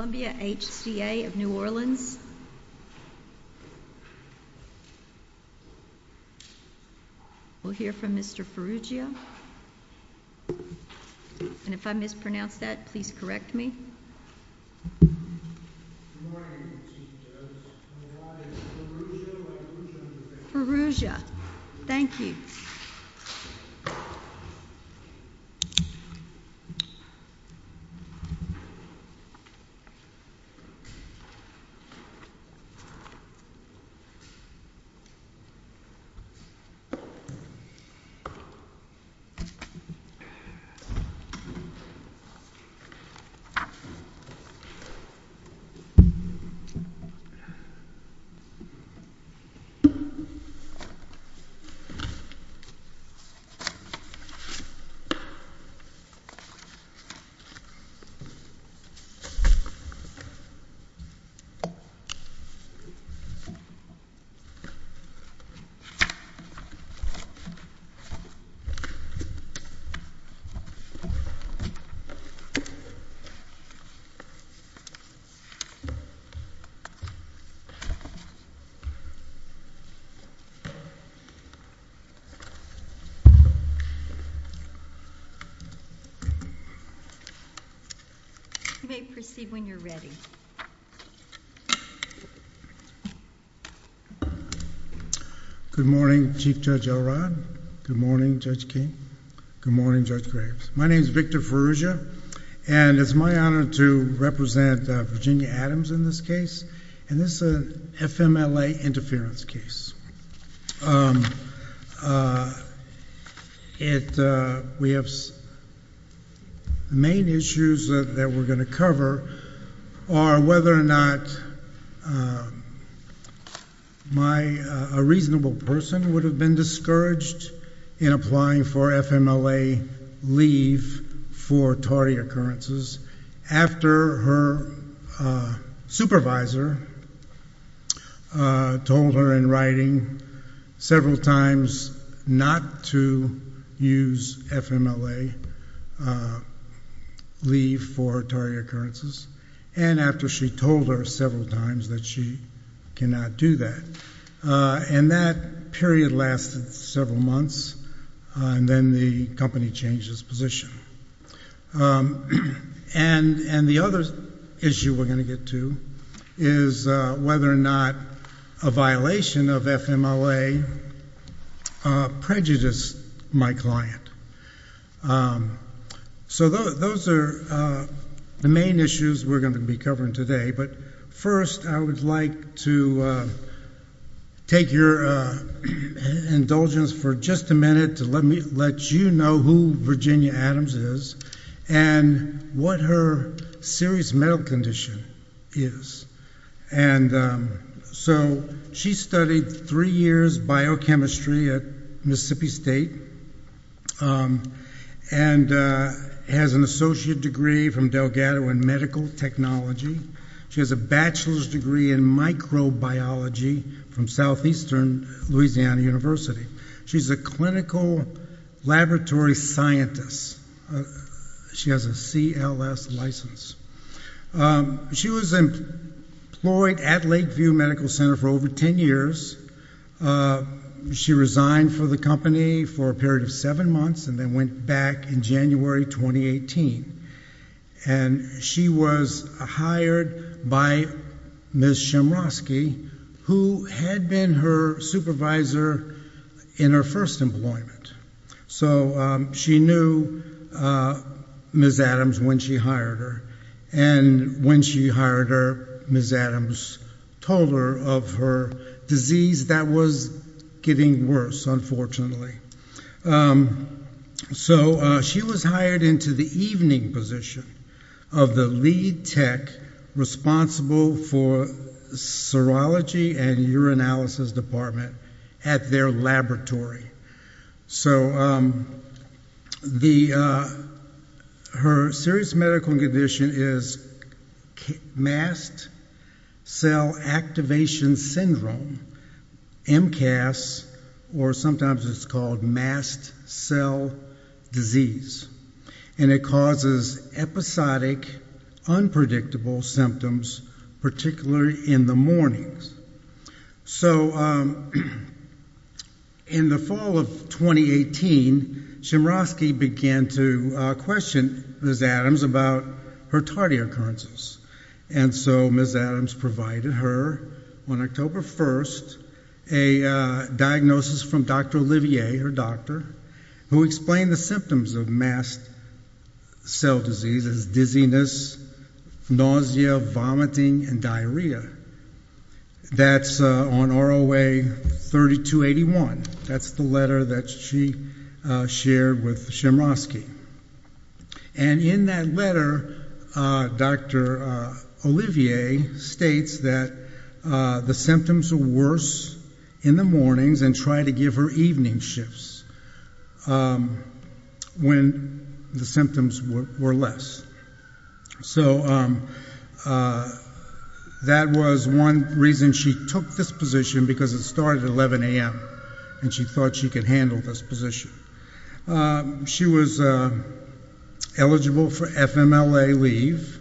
We'll hear from Mr. Ferugia, and if I mispronounce that, please correct me. Good morning, teachers. My name is Ferugia. Ferugia. Thank you. Good morning. You may proceed when you're ready. Good morning, Chief Judge Elrod. Good morning, Judge King. Good morning, Judge Graves. My name is Victor Ferugia, and it's my honor to represent Virginia Adams in this case, and this is an FMLA interference case. The main issues that we're going to cover are whether or not a reasonable person would have been discouraged in applying for FMLA leave for tardy occurrences after her supervisor told her in writing several times not to use FMLA leave for tardy occurrences, and after she told her several times that she cannot do that. And that period lasted several months, and then the company changed its position. And the other issue we're going to get to is whether or not a violation of FMLA prejudiced my client. So those are the main issues we're going to be covering today, but first I would like to take your indulgence for just a minute to let you know who Virginia Adams is and what her serious medical condition is. And so she studied three years biochemistry at Mississippi State and has an associate degree from Delgado in medical technology. She has a bachelor's degree in microbiology from Southeastern Louisiana University. She's a clinical laboratory scientist. She has a CLS license. She was employed at Lakeview Medical Center for over 10 years. She resigned for the company for a period of seven months and then went back in January 2018. And she was hired by Ms. Shimrosky, who had been her supervisor in her first employment. So she knew Ms. Adams when she hired her, and when she hired her, Ms. Adams told her of her disease that was getting worse, unfortunately. So she was hired into the evening position of the lead tech responsible for serology and urinalysis department at their laboratory. So her serious medical condition is mast cell activation syndrome, MCAS, or sometimes it's called mast cell disease. And it causes episodic, unpredictable symptoms, particularly in the mornings. So in the fall of 2018, Shimrosky began to question Ms. Adams about her tardy occurrences. And so Ms. Adams provided her, on October 1st, a diagnosis from Dr. Olivier, her doctor, who explained the symptoms of mast cell disease as dizziness, nausea, vomiting, and diarrhea. That's on ROA 3281. That's the letter that she shared with Shimrosky. And in that letter, Dr. Olivier states that the symptoms were worse in the mornings and tried to give her evening shifts when the symptoms were less. So that was one reason she took this position, because it started at 11 a.m. and she thought she could handle this position. She was eligible for FMLA leave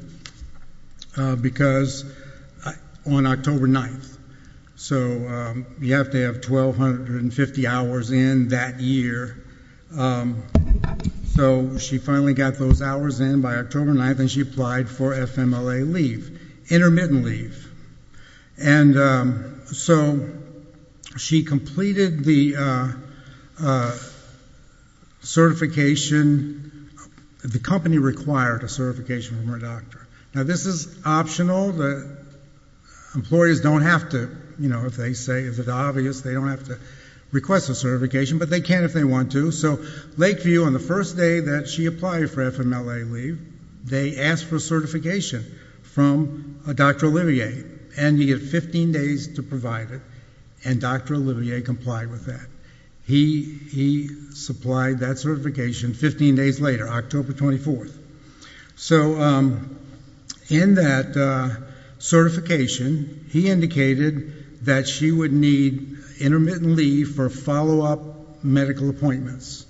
on October 9th, so you have to have 1,250 hours in that year. So she finally got those hours in by October 9th, and she applied for FMLA leave, intermittent leave. And so she completed the certification. The company required a certification from her doctor. Now this is optional. Employees don't have to, you know, if they say it's obvious, they don't have to request a certification. But they can if they want to. So Lakeview, on the first day that she applied for FMLA leave, they asked for a certification from Dr. Olivier, and he had 15 days to provide it, and Dr. Olivier complied with that. He supplied that certification 15 days later, October 24th. So in that certification, he indicated that she would need intermittent leave for follow-up medical appointments.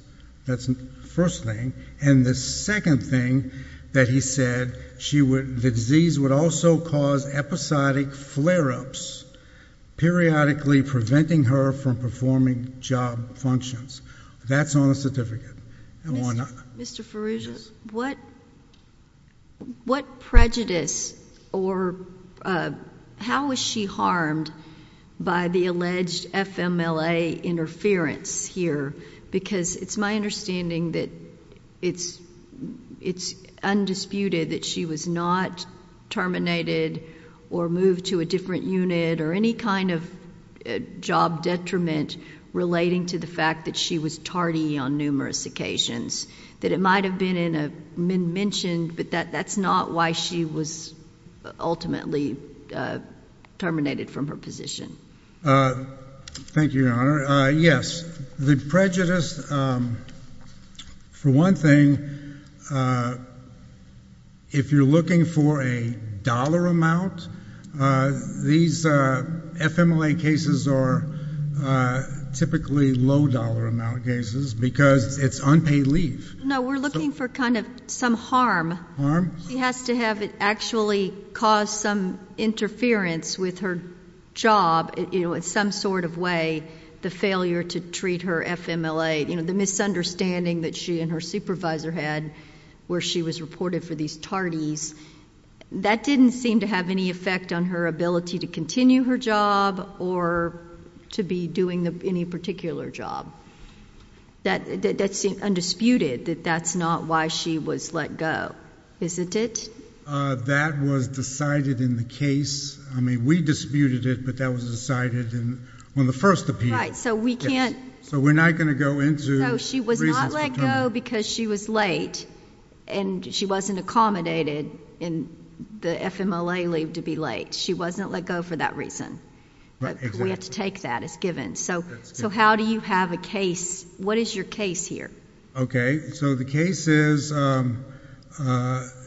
That's the first thing. And the second thing that he said, the disease would also cause episodic flare-ups, periodically preventing her from performing job functions. That's on the certificate and whatnot. Mr. Farooja, what prejudice or how was she harmed by the alleged FMLA interference here? Because it's my understanding that it's undisputed that she was not terminated or moved to a different unit or any kind of job detriment relating to the fact that she was tardy on numerous occasions. That it might have been mentioned, but that's not why she was ultimately terminated from her position. Thank you, Your Honor. Yes, the prejudice, for one thing, if you're looking for a dollar amount, these FMLA cases are typically low dollar amount cases because it's unpaid leave. No, we're looking for kind of some harm. She has to have actually caused some interference with her job in some sort of way, the failure to treat her FMLA, the misunderstanding that she and her supervisor had where she was reported for these tardies. That didn't seem to have any effect on her ability to continue her job or to be doing any particular job. That's undisputed that that's not why she was let go, isn't it? That was decided in the case. I mean, we disputed it, but that was decided in the first appeal. Right, so we can't... So we're not going to go into reasons for termination. She was let go because she was late, and she wasn't accommodated in the FMLA leave to be late. She wasn't let go for that reason. We have to take that as given. So how do you have a case? What is your case here? Okay, so the case is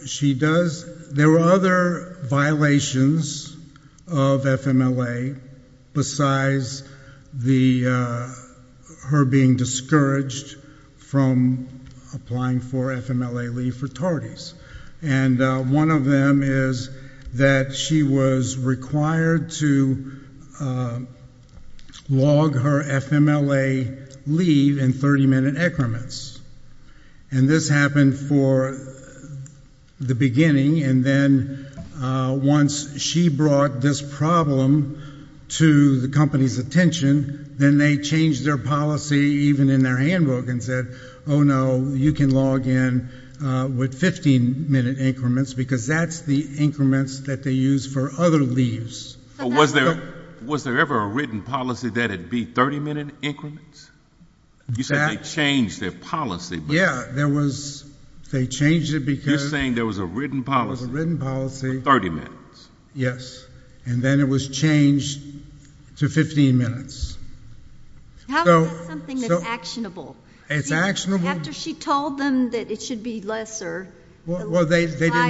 she does... There were other violations of FMLA besides her being discouraged from applying for FMLA leave for tardies. And one of them is that she was required to log her FMLA leave in 30-minute increments. And this happened for the beginning, and then once she brought this problem to the company's attention, then they changed their policy even in their handbook and said, oh, no, you can log in with 15-minute increments because that's the increments that they use for other leaves. Was there ever a written policy that it be 30-minute increments? You said they changed their policy. Yeah, there was. They changed it because... You're saying there was a written policy. There was a written policy. 30 minutes. Yes. And then it was changed to 15 minutes. How is that something that's actionable? It's actionable. After she told them that it should be lesser... Well, they didn't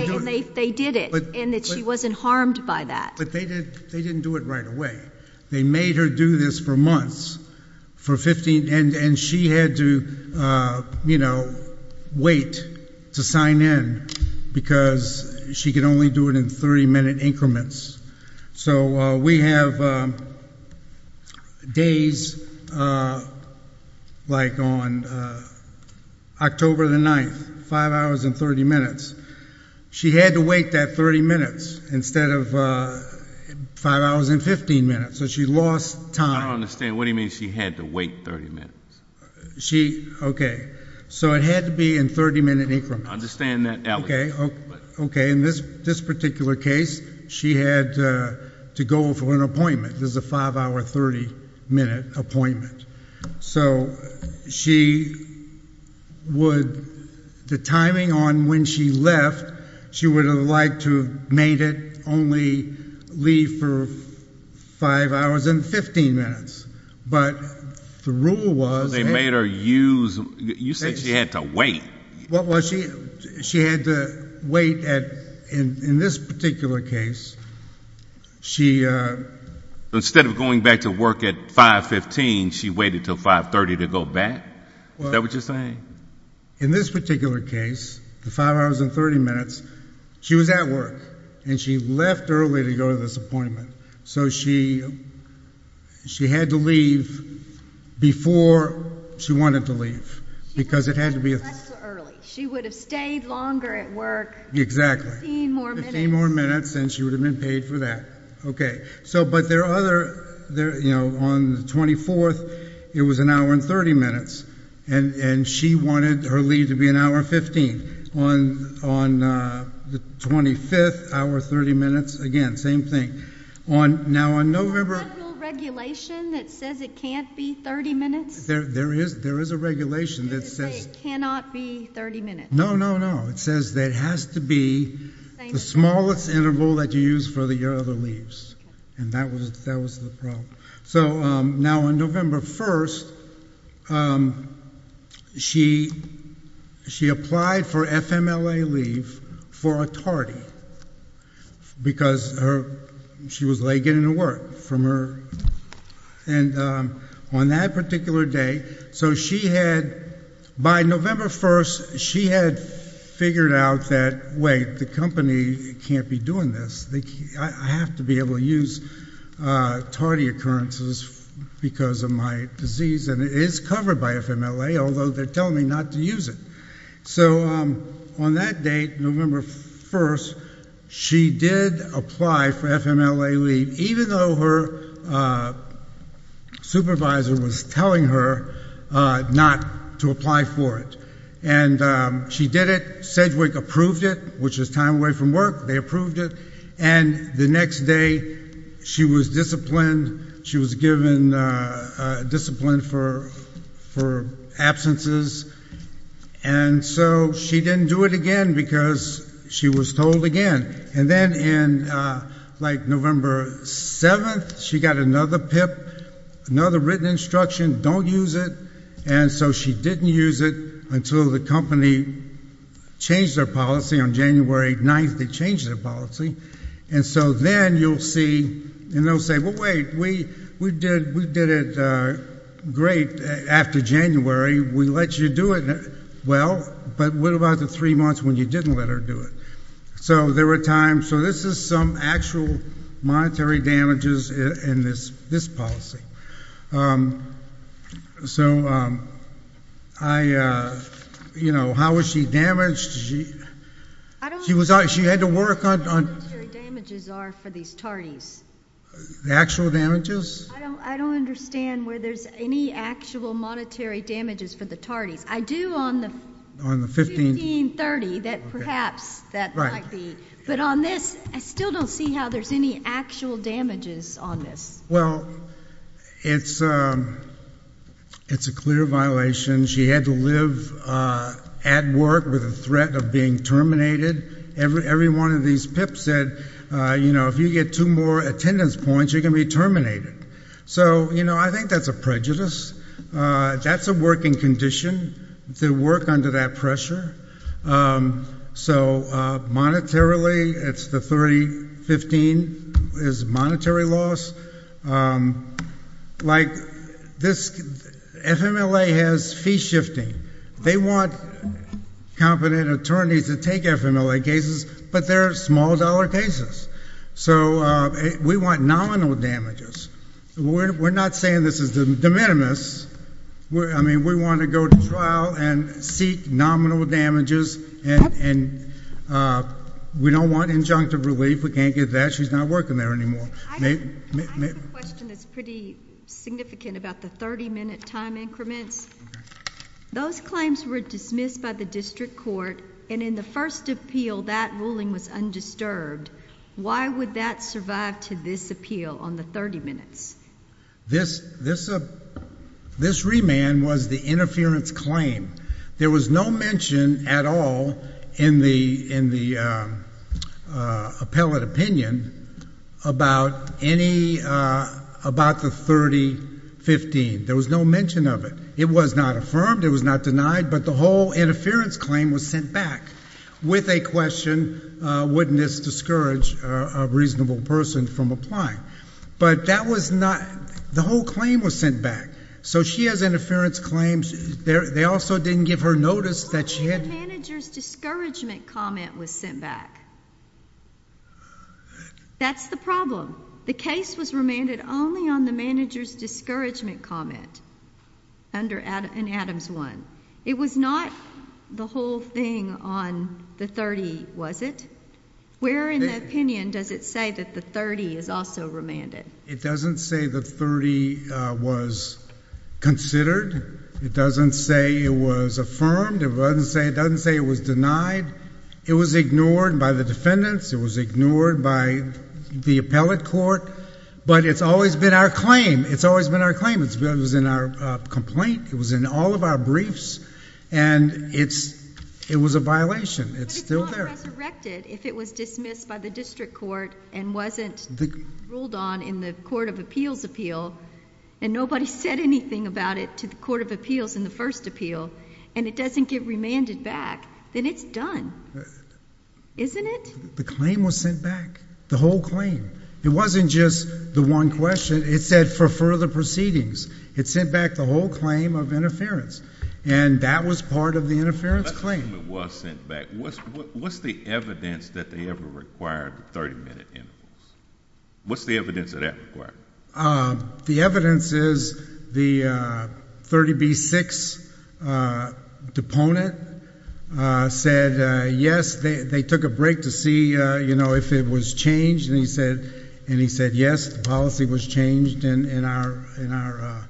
do it. And they did it, and that she wasn't harmed by that. But they didn't do it right away. They made her do this for months, for 15, and she had to, you know, wait to sign in because she could only do it in 30-minute increments. So we have days like on October the 9th, 5 hours and 30 minutes. She had to wait that 30 minutes instead of 5 hours and 15 minutes. So she lost time. I don't understand. What do you mean she had to wait 30 minutes? Okay. So it had to be in 30-minute increments. I understand that. Okay. Okay. In this particular case, she had to go for an appointment. This is a 5-hour, 30-minute appointment. So she would, the timing on when she left, she would have liked to have made it only leave for 5 hours and 15 minutes. But the rule was... So they made her use, you said she had to wait. Well, she had to wait at, in this particular case, she... Instead of going back to work at 5.15, she waited until 5.30 to go back? Is that what you're saying? In this particular case, the 5 hours and 30 minutes, she was at work, and she left early to go to this appointment. So she had to leave before she wanted to leave because it had to be... She wouldn't have left so early. She would have stayed longer at work. Exactly. 15 more minutes. 15 more minutes, and she would have been paid for that. Okay. But there are other, you know, on the 24th, it was an hour and 30 minutes, and she wanted her leave to be an hour and 15. On the 25th, hour and 30 minutes. Again, same thing. Now, on November... Is there a federal regulation that says it can't be 30 minutes? There is a regulation that says... It doesn't say it cannot be 30 minutes. No, no, no. It says that it has to be the smallest interval that you use for your other leaves. And that was the problem. So now on November 1st, she applied for FMLA leave for a tardy because she was late getting to work from her... And on that particular day, so she had... By November 1st, she had figured out that, wait, the company can't be doing this. I have to be able to use tardy occurrences because of my disease, and it is covered by FMLA, although they're telling me not to use it. So on that date, November 1st, she did apply for FMLA leave, even though her supervisor was telling her not to apply for it. And she did it. Sedgwick approved it, which was time away from work. They approved it. And the next day, she was disciplined. She was given discipline for absences. And so she didn't do it again because she was told again. And then on, like, November 7th, she got another PIP, another written instruction, don't use it, and so she didn't use it until the company changed their policy. On January 9th, they changed their policy. And so then you'll see, and they'll say, well, wait, we did it great after January. We let you do it. Well, but what about the three months when you didn't let her do it? So there were times. So this is some actual monetary damages in this policy. So I, you know, how was she damaged? She had to work on... I don't understand what the monetary damages are for these TARDIs. The actual damages? I don't understand where there's any actual monetary damages for the TARDIs. I do on the 1530 that perhaps that might be. But on this, I still don't see how there's any actual damages on this. Well, it's a clear violation. She had to live at work with the threat of being terminated. Every one of these PIPs said, you know, if you get two more attendance points, you're going to be terminated. So, you know, I think that's a prejudice. That's a working condition to work under that pressure. So monetarily, it's the 3015 is monetary loss. Like this, FMLA has fee shifting. They want competent attorneys to take FMLA cases, but they're small-dollar cases. So we want nominal damages. We're not saying this is de minimis. I mean, we want to go to trial and seek nominal damages, and we don't want injunctive relief. We can't get that. She's not working there anymore. I have a question that's pretty significant about the 30-minute time increments. Those claims were dismissed by the district court, and in the first appeal, that ruling was undisturbed. Why would that survive to this appeal on the 30 minutes? This remand was the interference claim. There was no mention at all in the appellate opinion about the 3015. There was no mention of it. It was not affirmed. It was not denied. But the whole interference claim was sent back with a question, wouldn't this discourage a reasonable person from applying? But that was not—the whole claim was sent back. So she has interference claims. They also didn't give her notice that she had— Why didn't the manager's discouragement comment was sent back? That's the problem. The case was remanded only on the manager's discouragement comment in Adams 1. It was not the whole thing on the 30, was it? Where in the opinion does it say that the 30 is also remanded? It doesn't say the 30 was considered. It doesn't say it was affirmed. It doesn't say it was denied. It was ignored by the defendants. It was ignored by the appellate court. But it's always been our claim. It's always been our claim. It was in our complaint. It was in all of our briefs. And it was a violation. It's still there. But it's not resurrected. If it was dismissed by the district court and wasn't ruled on in the court of appeals appeal and nobody said anything about it to the court of appeals in the first appeal and it doesn't get remanded back, then it's done, isn't it? The claim was sent back, the whole claim. It wasn't just the one question. It said for further proceedings. It sent back the whole claim of interference. And that was part of the interference claim. It was sent back. What's the evidence that they ever required 30-minute intervals? What's the evidence of that required? The evidence is the 30B6 deponent said, yes, they took a break to see if it was changed. And he said, yes, the policy was changed in our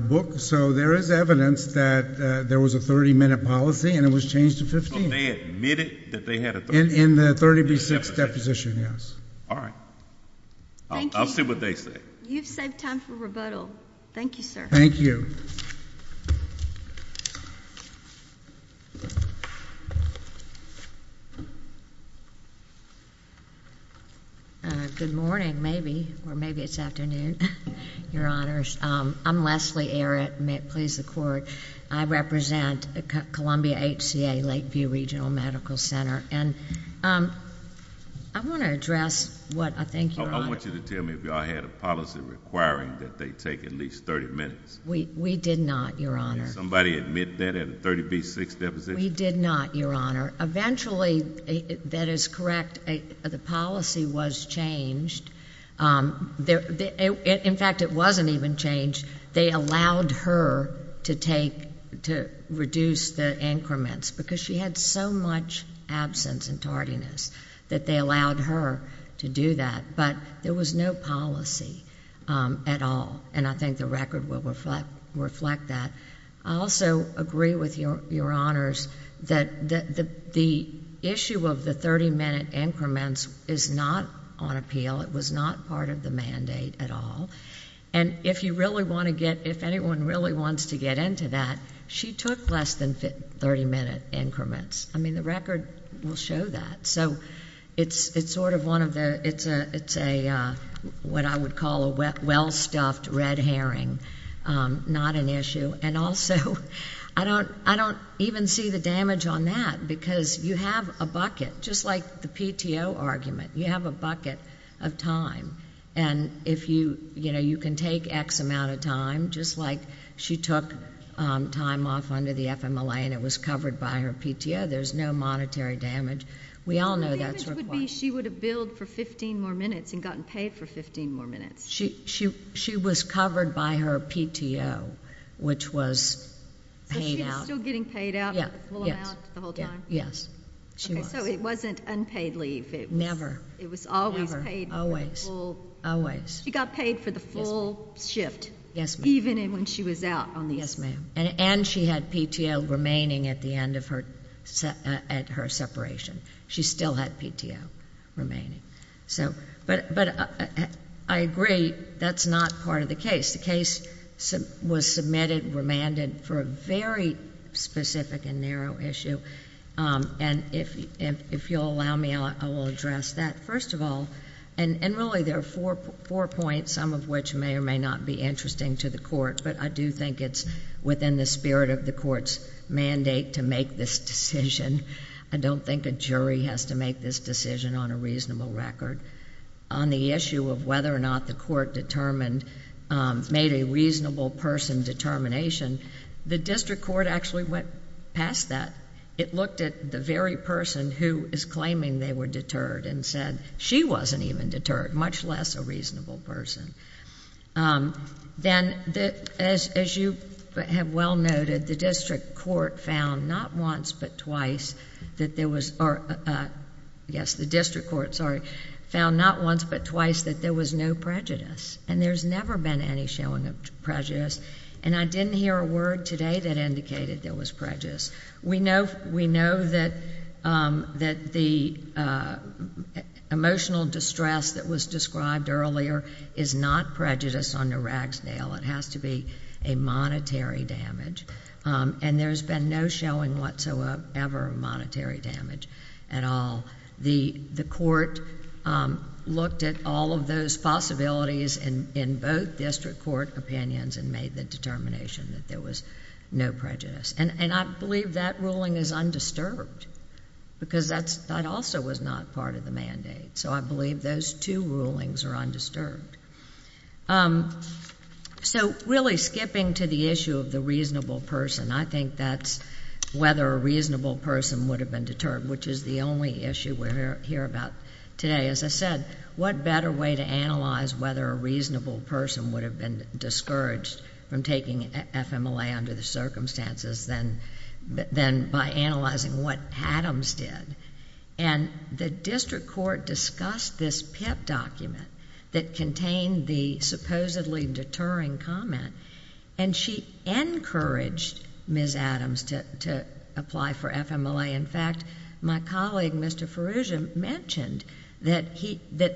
book. So there is evidence that there was a 30-minute policy and it was changed to 15. So they admitted that they had a 30-minute policy? In the 30B6 deposition, yes. All right. Thank you. I'll see what they say. You've saved time for rebuttal. Thank you, sir. Thank you. Good morning, maybe, or maybe it's afternoon, Your Honors. I'm Leslie Arrett. May it please the Court. I represent Columbia HCA Lakeview Regional Medical Center. I want to address what I think, Your Honor. I want you to tell me if y'all had a policy requiring that they take at least 30 minutes. We did not, Your Honor. Did somebody admit that in the 30B6 deposition? We did not, Your Honor. Eventually, that is correct, the policy was changed. In fact, it wasn't even changed. They allowed her to reduce the increments because she had so much absence and tardiness that they allowed her to do that. But there was no policy at all, and I think the record will reflect that. I also agree with Your Honors that the issue of the 30-minute increments is not on appeal. It was not part of the mandate at all. And if you really want to get, if anyone really wants to get into that, she took less than 30-minute increments. I mean, the record will show that. So it's sort of one of the, it's a, what I would call a well-stuffed red herring, not an issue. And also, I don't even see the damage on that because you have a bucket, just like the PTO argument, you have a bucket of time. And if you, you know, you can take X amount of time, just like she took time off under the FMLA and it was covered by her PTO. There's no monetary damage. We all know that's required. The only damage would be she would have billed for 15 more minutes and gotten paid for 15 more minutes. She was covered by her PTO, which was paid out. So she was still getting paid out, the full amount, the whole time? Yes. Okay, so it wasn't unpaid leave. Never. It was always paid. Always. She got paid for the full shift. Yes, ma'am. Even when she was out. Yes, ma'am. And she had PTO remaining at the end of her, at her separation. She still had PTO remaining. So, but I agree, that's not part of the case. The case was submitted, remanded for a very specific and narrow issue. And if you'll allow me, I will address that. First of all, and really there are four points, some of which may or may not be interesting to the court, but I do think it's within the spirit of the court's mandate to make this decision. I don't think a jury has to make this decision on a reasonable record. On the issue of whether or not the court determined, made a reasonable person determination, the district court actually went past that. It looked at the very person who is claiming they were deterred and said she wasn't even deterred, much less a reasonable person. Then, as you have well noted, the district court found not once but twice that there was... or, yes, the district court, sorry, found not once but twice that there was no prejudice. And there's never been any showing of prejudice. And I didn't hear a word today that indicated there was prejudice. We know that the emotional distress that was described earlier is not prejudice under Ragsdale. It has to be a monetary damage. And there's been no showing whatsoever of monetary damage at all. The court looked at all of those possibilities in both district court opinions and made the determination that there was no prejudice. And I believe that ruling is undisturbed because that also was not part of the mandate. So I believe those two rulings are undisturbed. So really skipping to the issue of the reasonable person, I think that's whether a reasonable person would have been deterred, which is the only issue we'll hear about today. As I said, what better way to analyze whether a reasonable person would have been discouraged from taking FMLA under the circumstances than by analyzing what Adams did? And the district court discussed this PIP document that contained the supposedly deterring comment, and she encouraged Ms. Adams to apply for FMLA. In fact, my colleague, Mr. Farrugia, mentioned that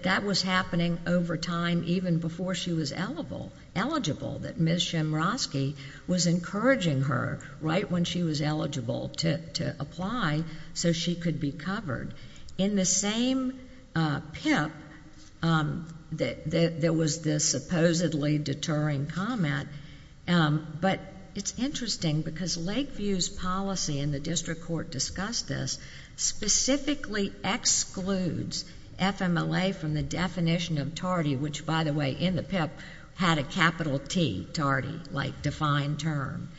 that was happening over time even before she was eligible, that Ms. Shimrosky was encouraging her right when she was eligible to apply so she could be covered. In the same PIP, there was this supposedly deterring comment, but it's interesting because Lakeview's policy, and the district court discussed this, specifically excludes FMLA from the definition of TARDI, which, by the way, in the PIP had a capital T, TARDI, like defined term.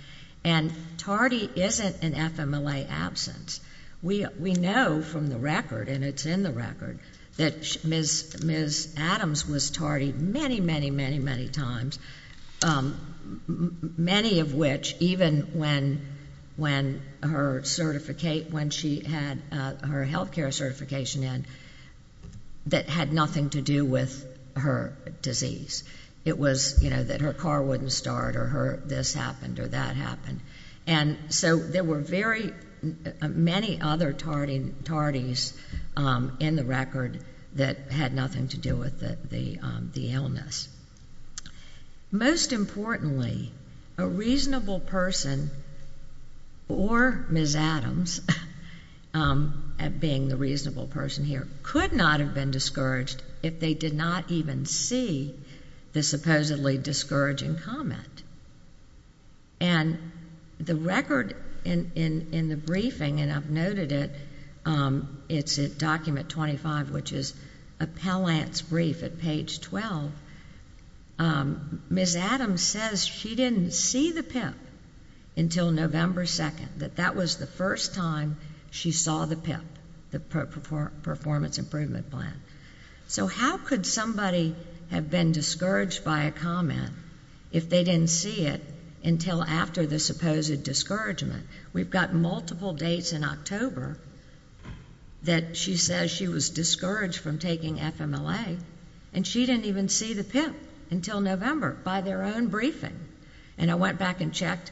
And TARDI isn't an FMLA absence. We know from the record, and it's in the record, that Ms. Adams was TARDI many, many, many, many times, many of which, even when her health care certification in, that had nothing to do with her disease. It was that her car wouldn't start or this happened or that happened. And so there were very many other TARDIs in the record that had nothing to do with the illness. Most importantly, a reasonable person or Ms. Adams, being the reasonable person here, could not have been discouraged if they did not even see the supposedly discouraging comment. And the record in the briefing, and I've noted it, it's at document 25, which is a Pellance brief at page 12. Ms. Adams says she didn't see the PIP until November 2nd, that that was the first time she saw the PIP, the performance improvement plan. So how could somebody have been discouraged by a comment if they didn't see it until after the supposed discouragement? We've got multiple dates in October that she says she was discouraged from taking FMLA, and she didn't even see the PIP until November by their own briefing. And I went back and checked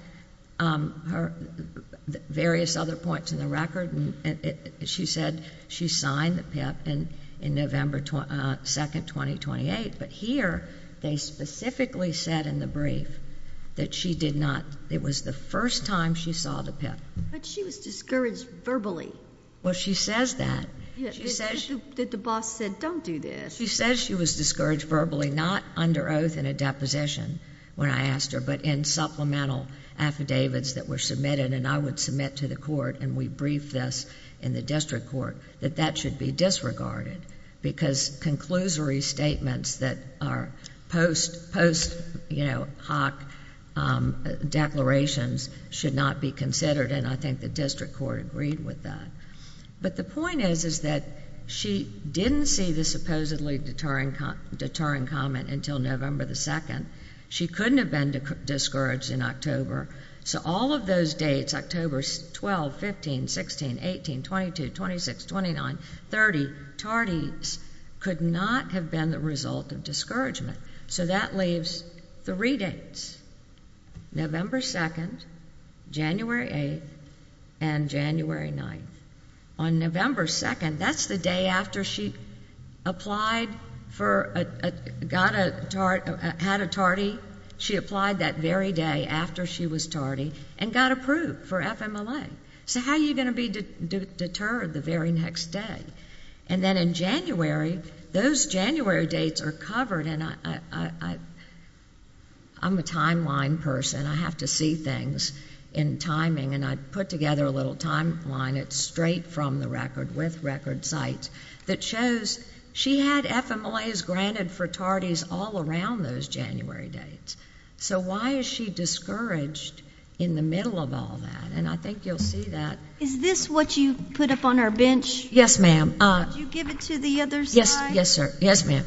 various other points in the record, and she said she signed the PIP in November 2nd, 2028, but here they specifically said in the brief that she did not. It was the first time she saw the PIP. But she was discouraged verbally. Well, she says that. The boss said, don't do this. She says she was discouraged verbally, not under oath in a deposition when I asked her, but in supplemental affidavits that were submitted, and I would submit to the court, and we briefed this in the district court, that that should be disregarded because conclusory statements that are post hoc declarations should not be considered, and I think the district court agreed with that. But the point is that she didn't see the supposedly deterring comment until November 2nd. She couldn't have been discouraged in October. So all of those dates, October 12, 15, 16, 18, 22, 26, 29, 30, tardies could not have been the result of discouragement. So that leaves three dates, November 2nd, January 8th, and January 9th. On November 2nd, that's the day after she had a tardy. She applied that very day after she was tardy and got approved for FMLA. So how are you going to be deterred the very next day? And then in January, those January dates are covered, and I'm a timeline person. I have to see things in timing, and I put together a little timeline. It's straight from the record with record sites that shows she had FMLAs granted for tardies all around those January dates. So why is she discouraged in the middle of all that? And I think you'll see that. Is this what you put up on our bench? Yes, ma'am. Did you give it to the other side? Yes, sir. Yes, ma'am.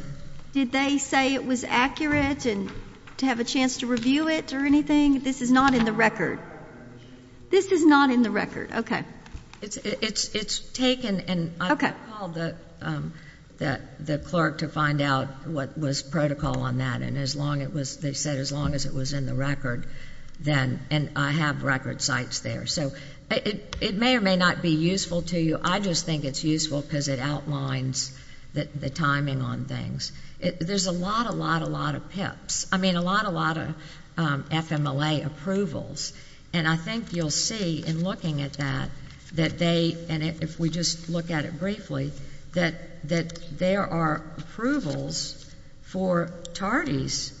Did they say it was accurate and to have a chance to review it or anything? This is not in the record. This is not in the record. Okay. It's taken, and I called the clerk to find out what was protocol on that, and they said as long as it was in the record, then I have record sites there. So it may or may not be useful to you. I just think it's useful because it outlines the timing on things. There's a lot, a lot, a lot of pips. I mean, a lot, a lot of FMLA approvals, and I think you'll see in looking at that that they, and if we just look at it briefly, that there are approvals for tardies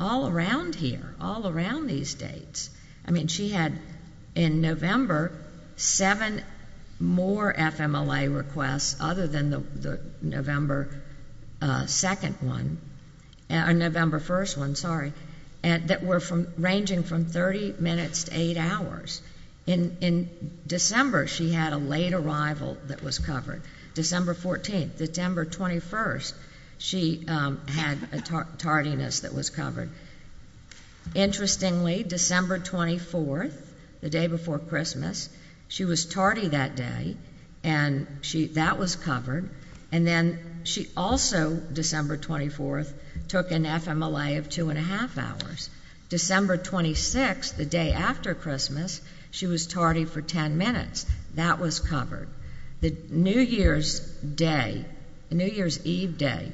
all around here, all around these dates. I mean, she had, in November, seven more FMLA requests other than the November 2nd one, or November 1st one, sorry, that were ranging from 30 minutes to eight hours. In December, she had a late arrival that was covered. December 14th. September 21st, she had a tardiness that was covered. Interestingly, December 24th, the day before Christmas, she was tardy that day, and that was covered. And then she also, December 24th, took an FMLA of two and a half hours. December 26th, the day after Christmas, she was tardy for ten minutes. That was covered. The New Year's Day, New Year's Eve day,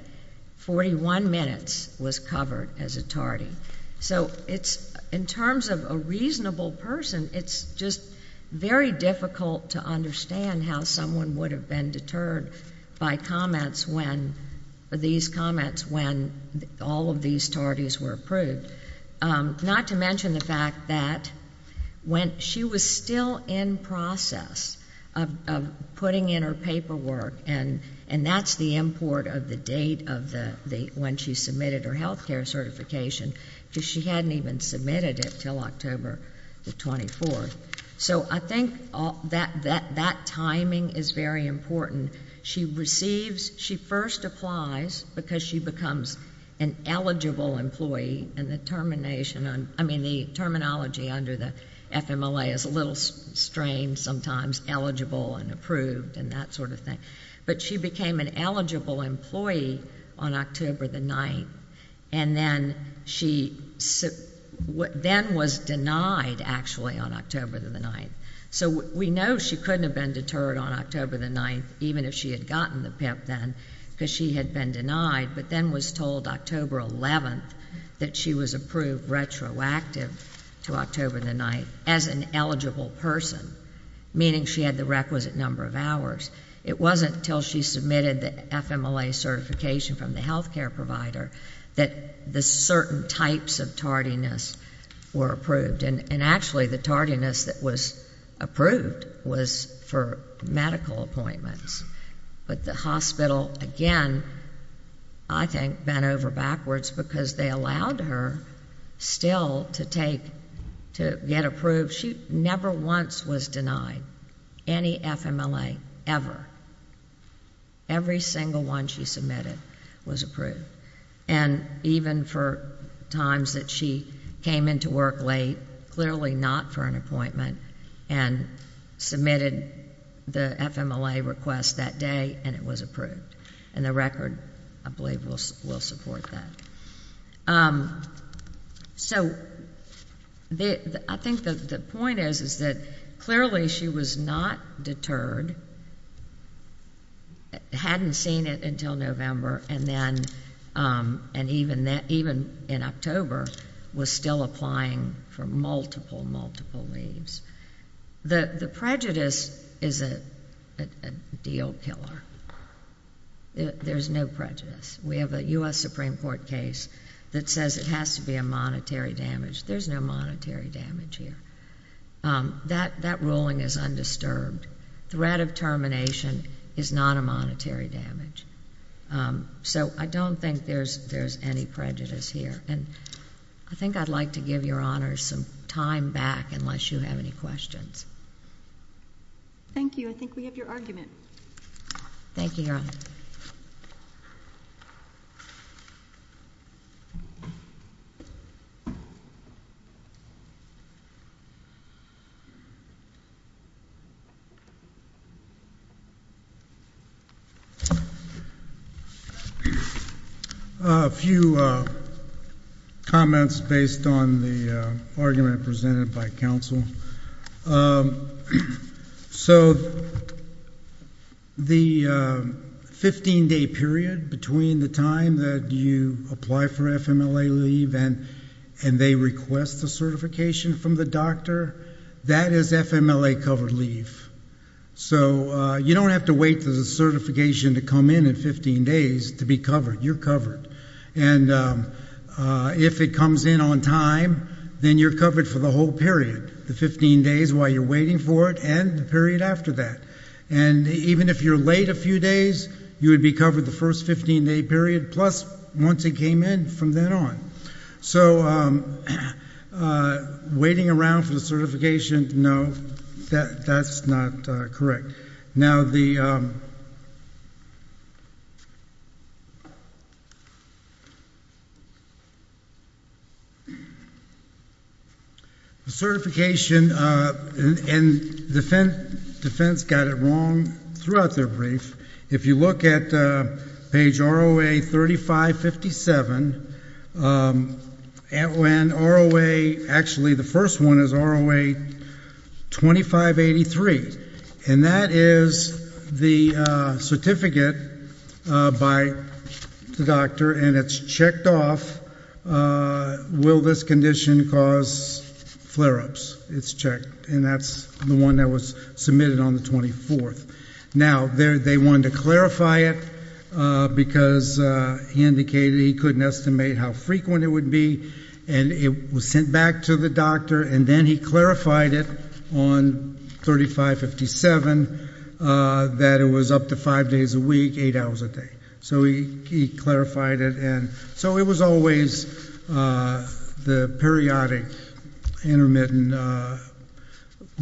41 minutes was covered as a tardy. So in terms of a reasonable person, it's just very difficult to understand how someone would have been deterred by these comments when all of these tardies were approved. Not to mention the fact that when she was still in process of putting in her paperwork, and that's the import of the date of when she submitted her health care certification, because she hadn't even submitted it until October the 24th. So I think that timing is very important. She first applies because she becomes an eligible employee, and the terminology under the FMLA is a little strange sometimes, eligible and approved and that sort of thing. But she became an eligible employee on October the 9th, and then was denied, actually, on October the 9th. So we know she couldn't have been deterred on October the 9th, even if she had gotten the PIP then, because she had been denied, but then was told October 11th that she was approved retroactive to October the 9th as an eligible person, meaning she had the requisite number of hours. It wasn't until she submitted the FMLA certification from the health care provider that the certain types of tardiness were approved, and actually the tardiness that was approved was for medical appointments. But the hospital, again, I think, bent over backwards because they allowed her still to get approved. She never once was denied any FMLA, ever. Every single one she submitted was approved. And even for times that she came into work late, clearly not for an appointment, and submitted the FMLA request that day, and it was approved. And the record, I believe, will support that. So I think the point is that clearly she was not deterred, hadn't seen it until November, and even in October was still applying for multiple, multiple leaves. The prejudice is a deal killer. There's no prejudice. We have a U.S. Supreme Court case that says it has to be a monetary damage. There's no monetary damage here. That ruling is undisturbed. Threat of termination is not a monetary damage. So I don't think there's any prejudice here. I think I'd like to give Your Honors some time back unless you have any questions. Thank you. I think we have your argument. Thank you, Your Honor. A few comments based on the argument presented by counsel. So the 15-day period between the time that you apply for FMLA leave and they request the certification from the doctor, that is FMLA-covered leave. So you don't have to wait for the certification to come in in 15 days to be covered. You're covered. And if it comes in on time, then you're covered for the whole period. The 15 days while you're waiting for it and the period after that. And even if you're late a few days, you would be covered the first 15-day period, plus once it came in from then on. So waiting around for the certification, no, that's not correct. Now, the certification and defense got it wrong throughout their brief. If you look at page ROA 3557, when ROA, actually the first one is ROA 2583. And that is the certificate by the doctor, and it's checked off, will this condition cause flare-ups? It's checked, and that's the one that was submitted on the 24th. Now, they wanted to clarify it because he indicated he couldn't estimate how frequent it would be, and it was sent back to the doctor, and then he clarified it on 3557 that it was up to five days a week, eight hours a day. So he clarified it. And so it was always the periodic intermittent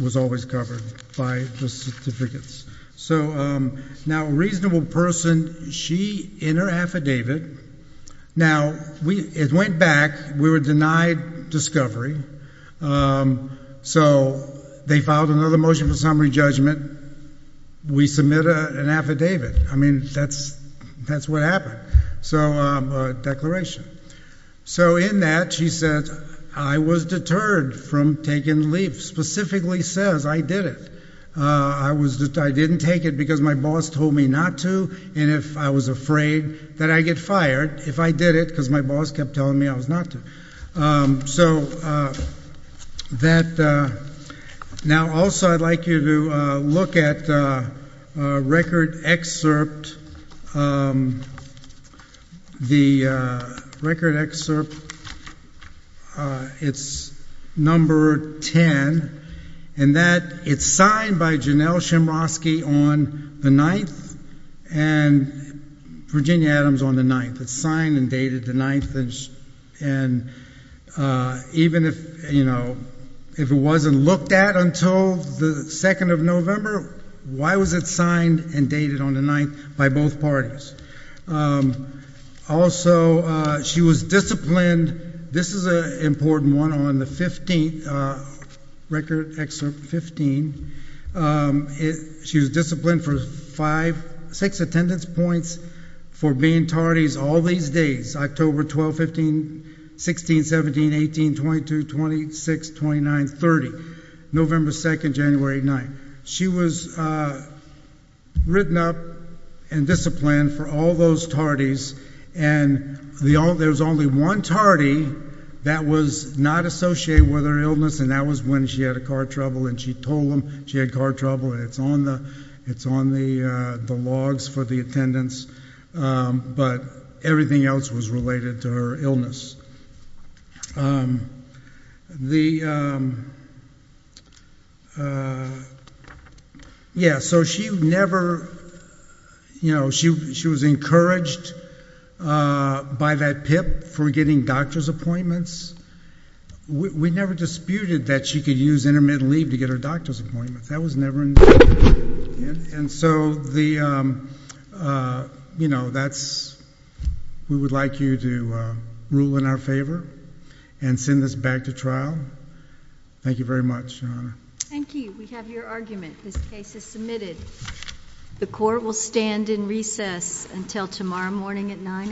was always covered by the certificates. So now a reasonable person, she in her affidavit. Now, it went back. We were denied discovery. So they filed another motion for summary judgment. We submit an affidavit. I mean, that's what happened. So a declaration. So in that, she says, I was deterred from taking the leave, specifically says I did it. I didn't take it because my boss told me not to, and I was afraid that I'd get fired if I did it because my boss kept telling me I was not to. Now, also I'd like you to look at record excerpt. The record excerpt, it's number 10. And that, it's signed by Janelle Shemrosky on the 9th, and Virginia Adams on the 9th. It's signed and dated the 9th. And even if, you know, if it wasn't looked at until the 2nd of November, why was it signed and dated on the 9th by both parties? Also, she was disciplined. And this is an important one on the 15th, record excerpt 15. She was disciplined for five, six attendance points for being tardies all these days, October 12, 15, 16, 17, 18, 22, 26, 29, 30, November 2nd, January 9th. She was written up and disciplined for all those tardies, and there was only one tardy that was not associated with her illness, and that was when she had a car trouble, and she told them she had car trouble. It's on the logs for the attendance, but everything else was related to her illness. The, yeah, so she never, you know, she was encouraged by that PIP for getting doctor's appointments. We never disputed that she could use intermittent leave to get her doctor's appointments. That was never an issue. And so the, you know, that's, we would like you to rule in our favor and send this back to trial. Thank you very much, Your Honor. Thank you. We have your argument. This case is submitted. The court will stand in recess until tomorrow morning at 9 a.m.